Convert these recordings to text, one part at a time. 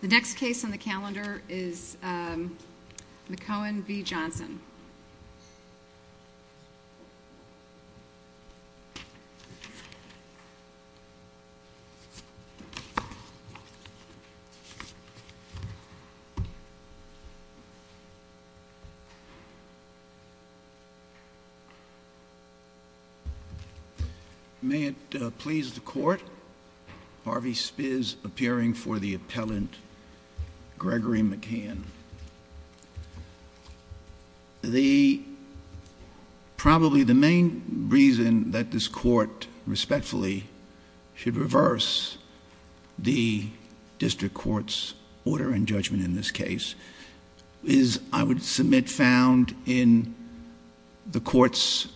The next case on the calendar is McKeon v. Johnson. May it please the court, Harvey Spiz appearing for the appellant Gregory McKeon. The, probably the main reason that this court respectfully should reverse the district court's order and judgment in this case is I would submit found in the court's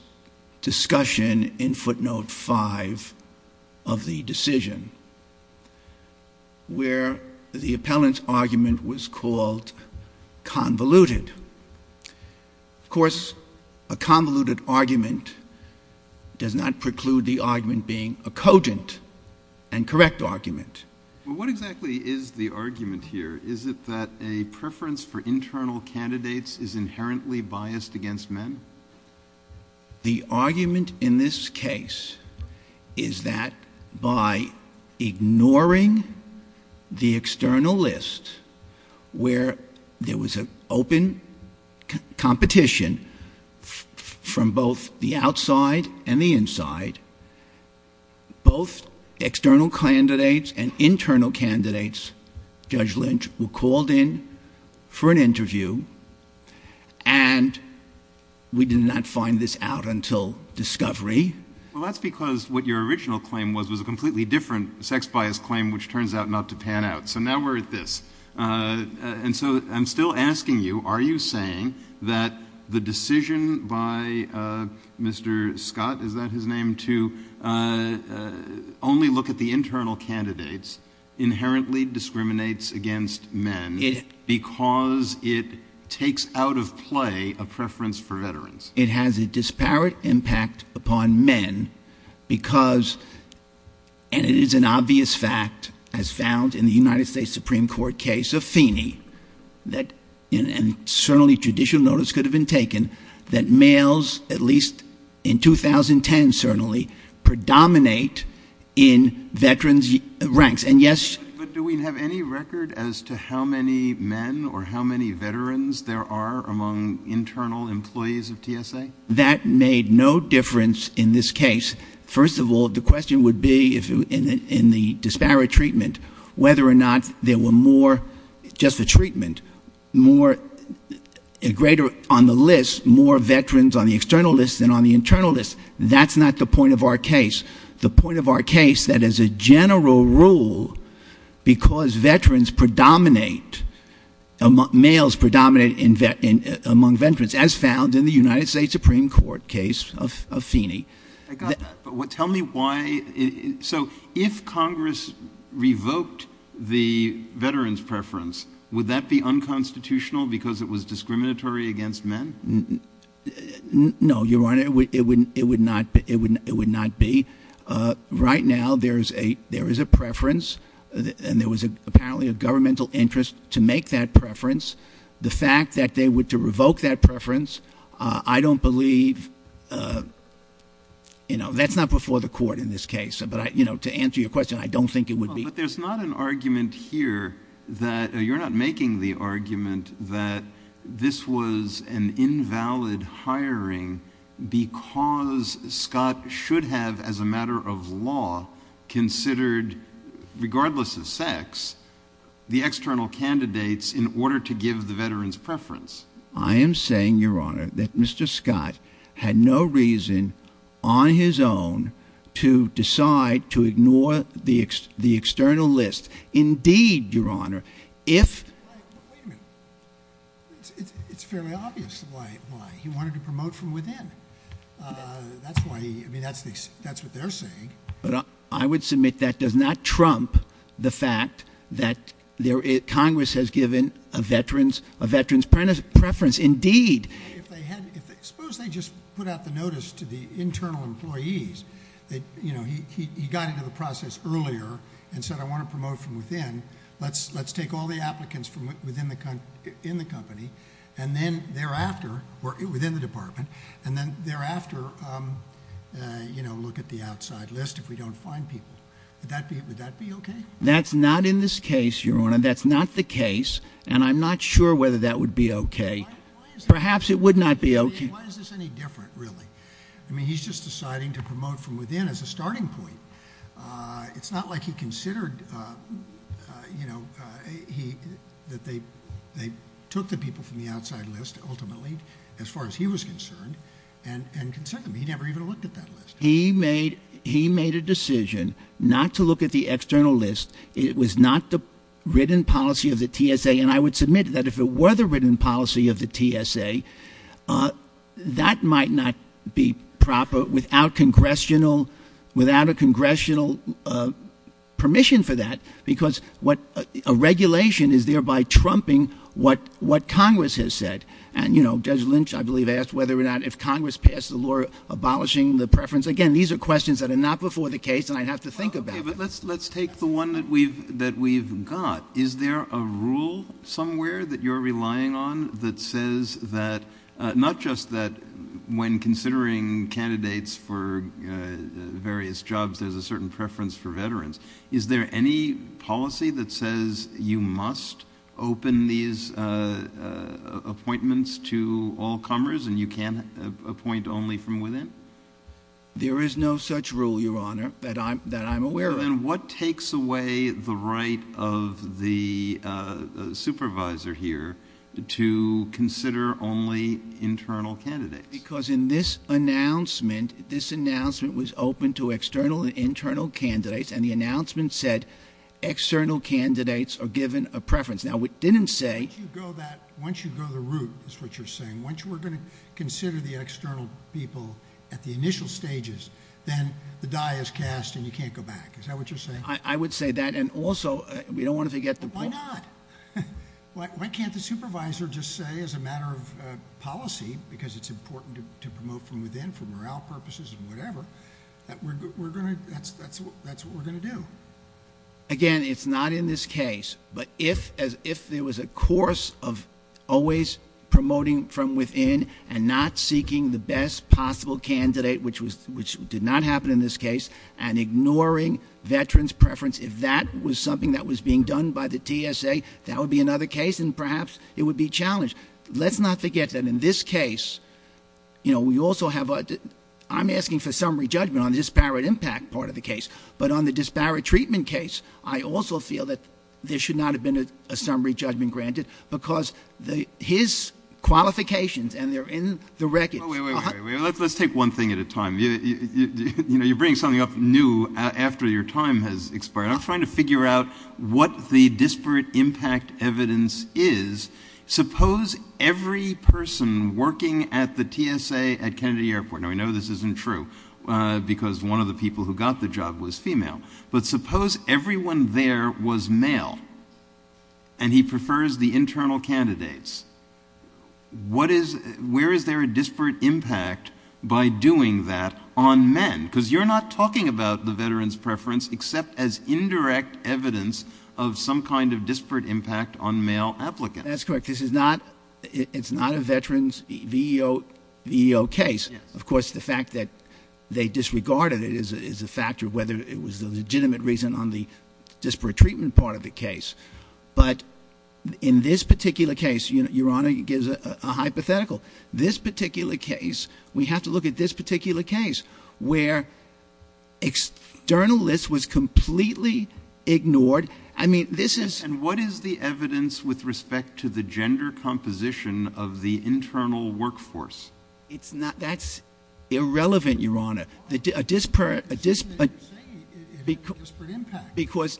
discussion in convoluted. Of course, a convoluted argument does not preclude the argument being a cogent and correct argument. Well, what exactly is the argument here? Is it that a preference for internal candidates is inherently biased against men? Well, the argument in this case is that by ignoring the external list where there was an open competition from both the outside and the inside, both external candidates and we did not find this out until discovery. Well, that's because what your original claim was, was a completely different sex bias claim, which turns out not to pan out. So now we're at this. And so I'm still asking you, are you saying that the decision by Mr. Scott, is that his name, to only look at the internal candidates inherently discriminates against men because it takes out of play a preference for veterans? It has a disparate impact upon men because, and it is an obvious fact as found in the United States Supreme Court case of Feeney that certainly judicial notice could have been taken that males, at least in 2010, certainly predominate in veterans ranks. And yes. But do we have any record as to how many men or how many veterans there are among internal employees of TSA? That made no difference in this case. First of all, the question would be if in the disparate treatment, whether or not there were more just for treatment, more greater on the list, more veterans on the external list than on the internal list. That's not the point of our case. The point of our case that as a general rule, because veterans predominate, males predominate among veterans as found in the United States Supreme Court case of Feeney. I got that. But tell me why. So if Congress revoked the veterans preference, would that be unconstitutional because it was discriminatory against men? No, Your Honor, it would not be. Right now, there is a preference and there was apparently a governmental interest to make that preference. The fact that they were to revoke that preference, I don't believe, you know, that's not before the court in this case. But I, you know, to answer your question, I don't think it would be. But there's not an argument here that, you're not making the argument that this was an invalid hiring because Scott should have, as a matter of law, considered, regardless of sex, the external candidates in order to give the veterans preference. I am saying, Your Honor, that Mr. Scott had no reason, on his own, to decide to ignore the external list. Indeed, Your Honor, if... Wait a minute. It's fairly obvious why. He wanted to promote from within. That's why, I mean, that's what they're saying. But I would submit that does not trump the fact that Congress has given a veterans preference. Indeed. Suppose they just put out the notice to the internal employees that, you know, he got into the process earlier and said, I want to promote from within. Let's take all the people in the company and then thereafter, or within the department, and then thereafter, you know, look at the outside list if we don't find people. Would that be okay? That's not in this case, Your Honor. That's not the case. And I'm not sure whether that would be okay. Perhaps it would not be okay. Why is this any different, really? I mean, he's just deciding to promote from within as a starting point. It's not like he considered, you know, that they took the people from the outside list, ultimately, as far as he was concerned, and considered them. He never even looked at that list. He made a decision not to look at the external list. It was not the written policy of the TSA. And I would submit that if it were the written policy of the TSA, that might not be proper without congressional, without a congressional permission for that, because a regulation is thereby trumping what Congress has said. And, you know, Judge Lynch, I believe, asked whether or not if Congress passed the law abolishing the preference. Again, these are questions that are not before the case, and I'd have to think about them. Okay, but let's take the one that we've got. Is there a rule somewhere that you're relying on that says that, not just that when considering candidates for various jobs, there's a certain preference for veterans. Is there any policy that says you must open these appointments to all comers, and you can't appoint only from within? There is no such rule, Your Honor, that I'm aware of. Then what takes away the right of the supervisor here to consider only internal candidates? Because in this announcement, this announcement was open to external and internal candidates, and the announcement said external candidates are given a preference. Now, it didn't say Once you go the route, is what you're saying, once we're going to consider the external people at the initial stages, then the die is cast and you can't go back. Is that what you're saying? I would say that, and also, we don't want to forget the Why not? Why can't the supervisor just say as a matter of policy, because it's important to promote from within for morale purposes and whatever, that we're going to, that's what we're going to do? Again, it's not in this case, but if there was a course of always promoting from within and not seeking the best possible candidate, which did not happen in this case, and ignoring veterans' preference, if that was something that was being done by the TSA, that would be another case, and perhaps it would be challenged. Let's not forget that in this case, you know, we also have, I'm asking for summary judgment on the disparate impact part of the case, but on the disparate treatment case, I also feel that there should not have been a summary judgment granted, because his qualifications, and they're in the records. Wait, wait, wait. Let's take one thing at a time. You know, you're bringing something up new after your time has expired. I'm trying to figure out what the disparate impact evidence is. Suppose every person working at the TSA at Kennedy Airport, and we know this isn't true, because one of the people who got the job was female, but suppose everyone there was male, and he prefers the internal candidates. Where is there a disparate impact by doing that on men? Because you're not talking about the veterans' preference, except as indirect evidence of some kind of disparate impact on male applicants. That's correct. This is not a veterans' VEO case. Of course, the fact that they disregarded it is a factor of whether it was a legitimate reason on the disparate treatment part of the case. But in this particular case, Your Honor, it gives a hypothetical. This particular case, we have to look at this particular case, where external list was completely ignored. I mean, this is — And what is the evidence with respect to the gender composition of the internal workforce? It's not — that's irrelevant, Your Honor. A disparate — But the TSA had a disparate impact. Because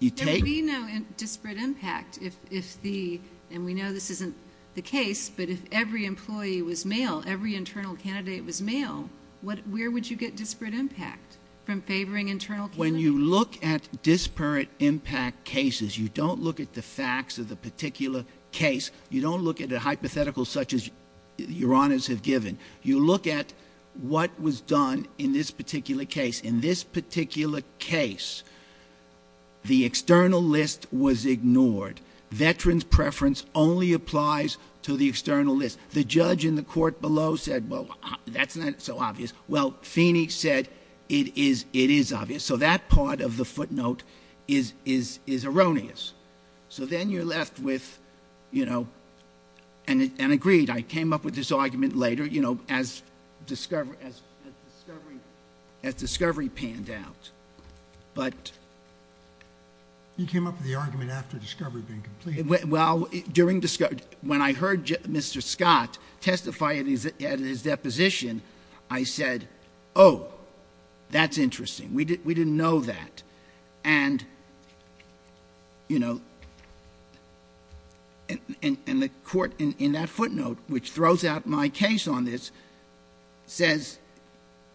you take — There would be no disparate impact if the — and we know this isn't the case, but if every employee was male, every internal candidate was male, where would you get disparate impact from favoring internal candidates? When you look at disparate impact cases, you don't look at the facts of the particular case. You don't look at a hypothetical such as Your Honors have given. You look at what was done in this particular case. In this particular case, the external list was ignored. Veterans' preference only applies to the external list. The judge in the court below said, well, that's not so obvious. Well, Phoenix said it is obvious. So that part of the footnote is erroneous. So then you're left with, you know — and agreed. I came up with this argument later, you know, as discovery panned out. But — You came up with the argument after discovery had been completed. Well, during — when I heard Mr. Scott testify at his deposition, I said, oh, that's interesting. We didn't know that. And, you know — and the court in that footnote, which throws out my case on this, says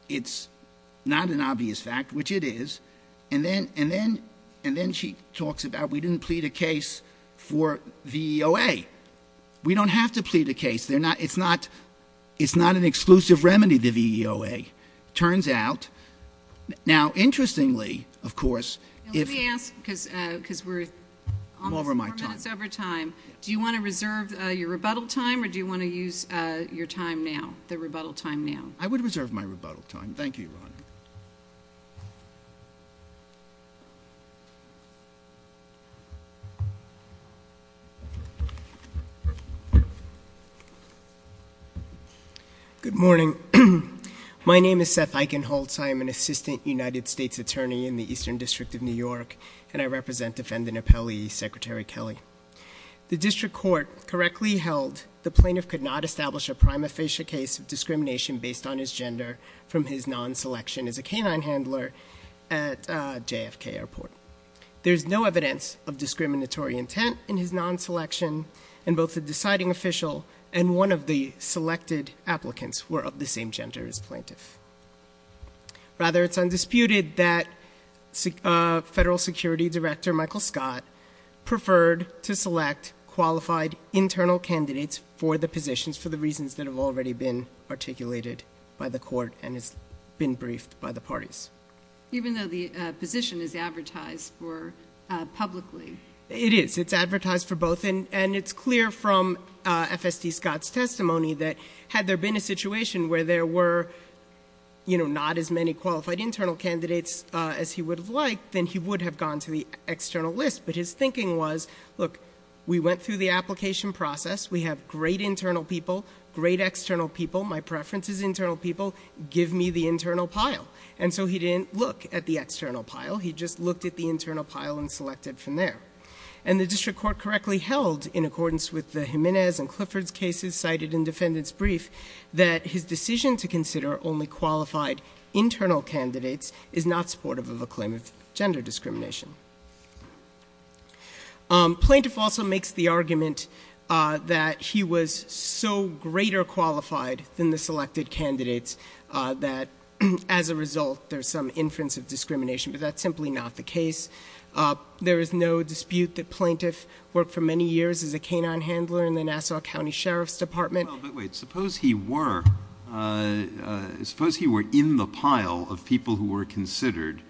it's not an obvious fact, which it is. And then she talks about we didn't plead a case for VEOA. We don't have to plead a case. It's not an exclusive remedy, the VEOA. Turns out — now, interestingly, of course, if — Let me ask, because we're almost four minutes over time. Over my time. Do you want to reserve your rebuttal time, or do you want to use your time now, the rebuttal time now? I would reserve my rebuttal time. Thank you, Your Honor. Good morning. My name is Seth Eichenholz. I am an assistant United States attorney in the Eastern District of New York, and I represent defendant appellee Secretary Kelly. The district court correctly held the plaintiff could not establish a prima facie case of non-selection as a canine handler at JFK Airport. There's no evidence of discriminatory intent in his non-selection, and both the deciding official and one of the selected applicants were of the same gender as plaintiff. Rather, it's undisputed that Federal Security Director Michael Scott preferred to select qualified internal candidates for the positions for the reasons that have already been articulated by the court and has been briefed by the parties. Even though the position is advertised for publicly? It is. It's advertised for both, and it's clear from FSD Scott's testimony that had there been a situation where there were, you know, not as many qualified internal candidates as he would have liked, then he would have gone to the external list. But his thinking was, look, we went through the application process. We have great internal people, great external people. My preference is internal people. Give me the internal pile. And so he didn't look at the external pile. He just looked at the internal pile and selected from there. And the district court correctly held, in accordance with the Jimenez and Clifford's cases cited in defendant's brief, that his decision to consider only qualified internal candidates is not supportive of a claim of gender discrimination. Plaintiff also makes the argument that he was so greater qualified than the selected candidates that, as a result, there's some inference of discrimination, but that's simply not the case. There is no dispute that Plaintiff worked for many years as a canine handler in the Nassau County Sheriff's Department. Well, but wait. Suppose he were in the pile of people who were considered,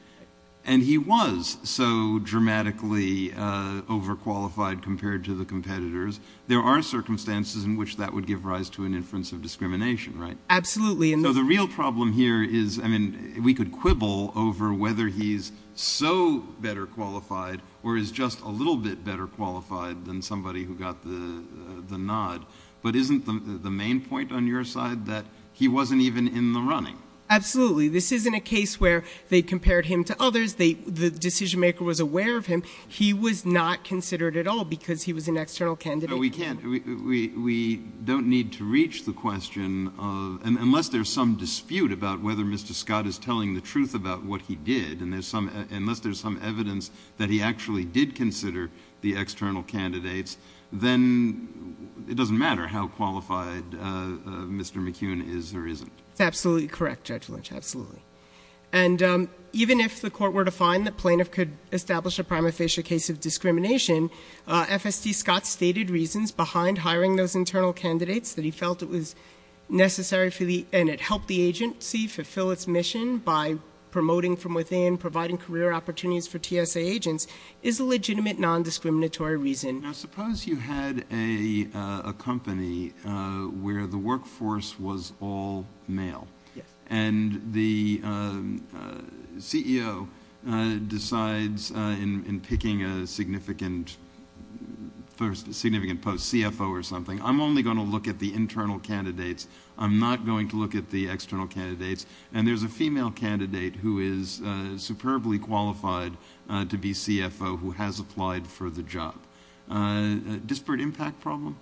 and he was. Not so dramatically overqualified compared to the competitors. There are circumstances in which that would give rise to an inference of discrimination, right? Absolutely. So the real problem here is, I mean, we could quibble over whether he's so better qualified or is just a little bit better qualified than somebody who got the nod. But isn't the main point on your side that he wasn't even in the running? Absolutely. This isn't a case where they compared him to others, the decision maker was aware of him. He was not considered at all because he was an external candidate. No, we can't. We don't need to reach the question of, unless there's some dispute about whether Mr. Scott is telling the truth about what he did, and unless there's some evidence that he actually did consider the external candidates, then it doesn't matter how qualified Mr. McKeown is or isn't. That's absolutely correct, Judge Lynch, absolutely. And even if the court were to find the plaintiff could establish a prima facie case of discrimination, FST Scott's stated reasons behind hiring those internal candidates that he felt it was necessary for the, and it helped the agency fulfill its mission by promoting from within, providing career opportunities for TSA agents, is a legitimate non-discriminatory reason. Now, suppose you had a company where the workforce was all male, and the CEO decides in picking a significant post, CFO or something, I'm only going to look at the internal candidates, I'm not going to look at the external candidates, and there's a female candidate who is superbly qualified to be CFO who has applied for the job. A disparate impact problem?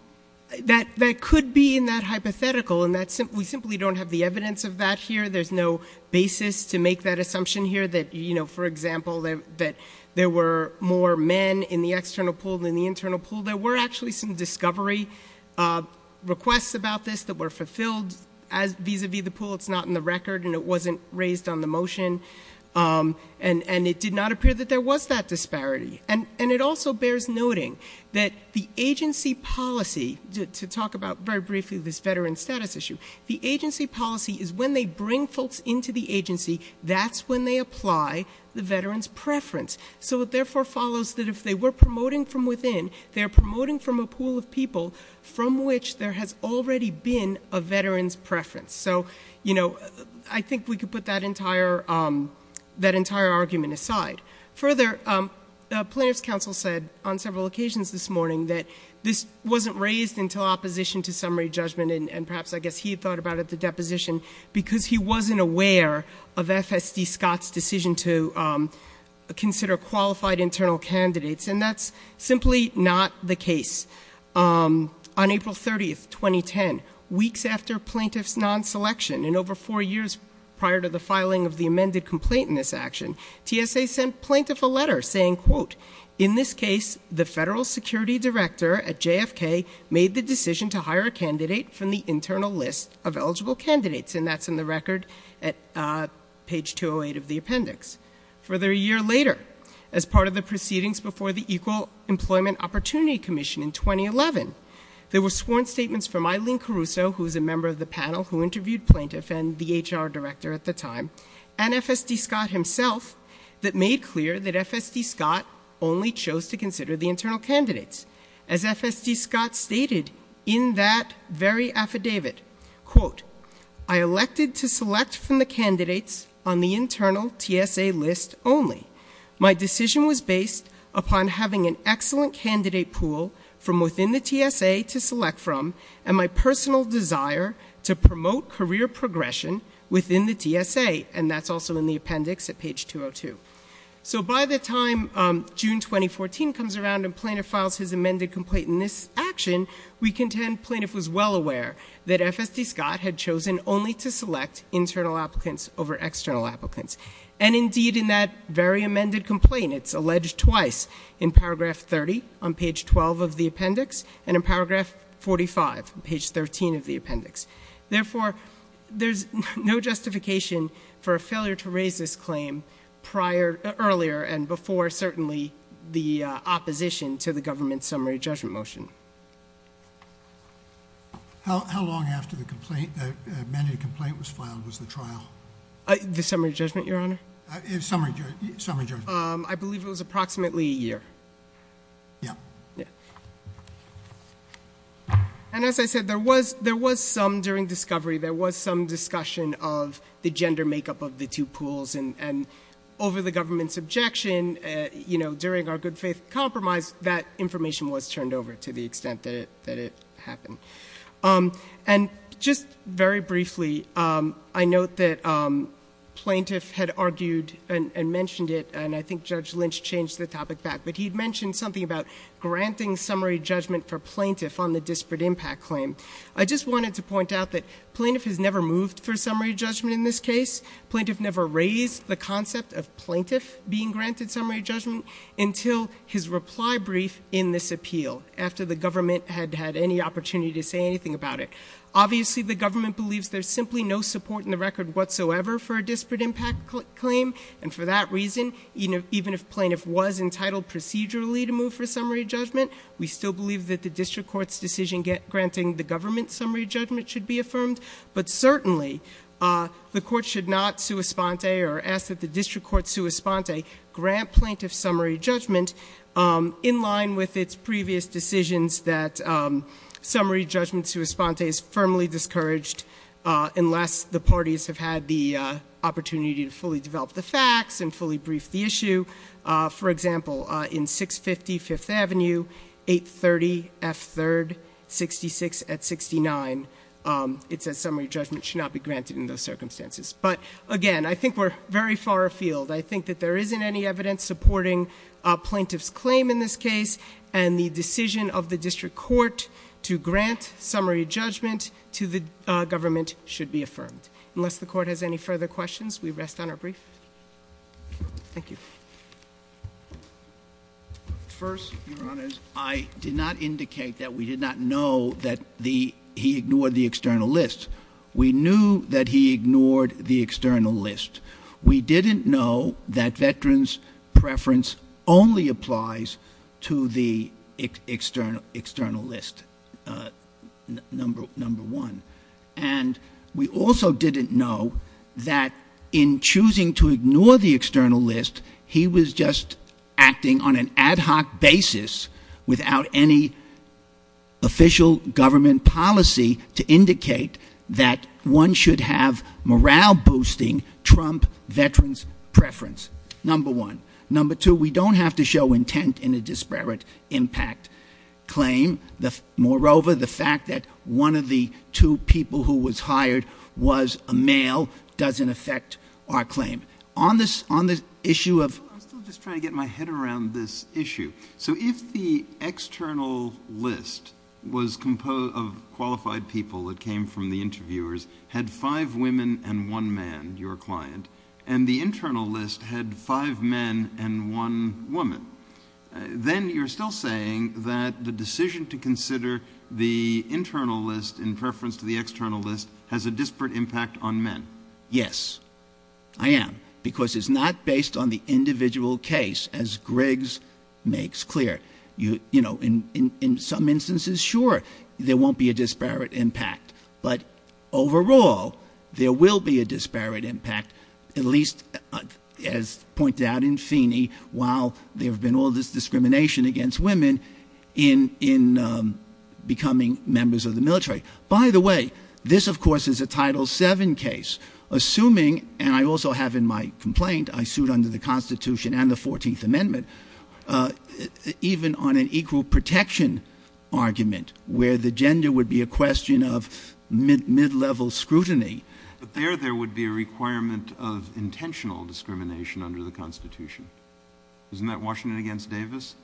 That could be in that hypothetical, and we simply don't have the evidence of that here. There's no basis to make that assumption here that, you know, for example, that there were more men in the external pool than in the internal pool. There were actually some discovery requests about this that were fulfilled vis-à-vis the pool. It's not in the record, and it wasn't raised on the motion, and it did not appear that there was that disparity. And it also bears noting that the agency policy, to talk about very briefly this veteran status issue, the agency policy is when they bring folks into the agency, that's when they apply the veteran's preference. So it therefore follows that if they were promoting from within, they're promoting from a pool of people from which there has already been a veteran's preference. So, you know, I think we could put that entire argument aside. Further, plaintiff's counsel said on several occasions this morning that this wasn't raised until opposition to summary judgment, and perhaps I guess he had thought about it at the deposition, because he wasn't aware of FSD Scott's decision to consider qualified internal candidates, and that's simply not the case. On April 30th, 2010, weeks after plaintiff's non-selection, and over four years prior to the filing of the amended complaint in this action, TSA sent plaintiff a letter saying, quote, in this case the federal security director at JFK made the decision to hire a candidate from the internal list of eligible candidates, and that's in the record at page 208 of the appendix. Further, a year later, as part of the proceedings before the Equal Employment Opportunity Commission in 2011, there were sworn statements from Eileen Caruso, who is a member of the panel who interviewed plaintiff and the HR director at the time, and FSD Scott himself, that made clear that FSD Scott only chose to consider the internal candidates. As FSD Scott stated in that very affidavit, quote, I elected to select from the candidates on the internal TSA list only. My decision was based upon having an excellent candidate pool from within the TSA to select from, and my personal desire to promote career progression within the TSA, and that's also in the appendix at page 202. So by the time June 2014 comes around and plaintiff files his amended complaint in this action, we contend plaintiff was well aware that FSD Scott had chosen only to select internal applicants over external applicants. And indeed, in that very amended complaint, it's alleged twice, in paragraph 30 on page 12 of the appendix and in paragraph 45 on page 13 of the appendix. Therefore, there's no justification for a failure to raise this claim earlier and before certainly the opposition to the government's summary judgment motion. How long after the amended complaint was filed was the trial? The summary judgment, Your Honor? Summary judgment. I believe it was approximately a year. Yeah. Yeah. And as I said, there was some during discovery, there was some discussion of the gender makeup of the two pools, and over the government's objection, you know, during our good faith compromise, that information was turned over to the extent that it happened. And just very briefly, I note that plaintiff had argued and mentioned it, and I think Judge Lynch changed the topic back, but he mentioned something about granting summary judgment for plaintiff on the disparate impact claim. I just wanted to point out that plaintiff has never moved for summary judgment in this case. Plaintiff never raised the concept of plaintiff being granted summary judgment until his reply brief in this appeal after the government had had any opportunity to say anything about it. Obviously, the government believes there's simply no support in the record whatsoever for a disparate impact claim, and for that reason, even if plaintiff was entitled procedurally to move for summary judgment, we still believe that the district court's decision granting the government summary judgment should be affirmed. But certainly, the court should not sua sponte or ask that the district court sua sponte grant plaintiff summary judgment in line with its previous decisions that summary judgment sua sponte is firmly discouraged unless the parties have had the opportunity to fully develop the facts and fully brief the issue. For example, in 650 Fifth Avenue, 830 F3rd, 66 at 69, it says summary judgment should not be granted in those circumstances. But again, I think we're very far afield. I think that there isn't any evidence supporting plaintiff's claim in this case, and the decision of the district court to grant summary judgment to the government should be affirmed. Unless the court has any further questions, we rest on our brief. Thank you. First, Your Honors, I did not indicate that we did not know that he ignored the external list. We knew that he ignored the external list. We didn't know that veterans' preference only applies to the external list, number one. And we also didn't know that in choosing to ignore the external list, he was just acting on an ad hoc basis without any official government policy to indicate that one should have morale-boosting Trump veterans' preference, number one. Number two, we don't have to show intent in a disparate impact claim. Moreover, the fact that one of the two people who was hired was a male doesn't affect our claim. On the issue of — I'm still just trying to get my head around this issue. So if the external list was composed of qualified people that came from the interviewers, had five women and one man, your client, and the internal list had five men and one woman, then you're still saying that the decision to consider the internal list in preference to the external list has a disparate impact on men. Yes, I am. Because it's not based on the individual case, as Griggs makes clear. In some instances, sure, there won't be a disparate impact. But overall, there will be a disparate impact, at least as pointed out in Feeney, while there have been all this discrimination against women in becoming members of the military. By the way, this, of course, is a Title VII case. Assuming, and I also have in my complaint, I sued under the Constitution and the 14th Amendment, even on an equal protection argument where the gender would be a question of mid-level scrutiny. But there, there would be a requirement of intentional discrimination under the Constitution. Isn't that Washington against Davis?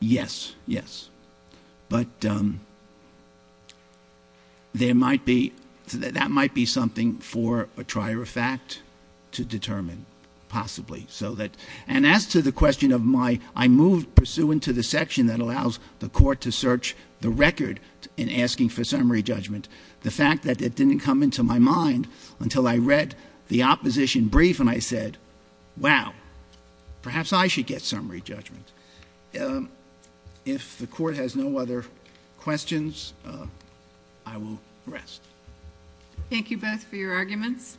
Yes, yes. But there might be, that might be something for a trier of fact to determine, possibly. And as to the question of my, I moved pursuant to the section that allows the court to search the record in asking for summary judgment, the fact that it didn't come into my mind until I read the opposition brief and I said, wow, perhaps I should get summary judgment. If the court has no other questions, I will rest. Thank you both for your arguments.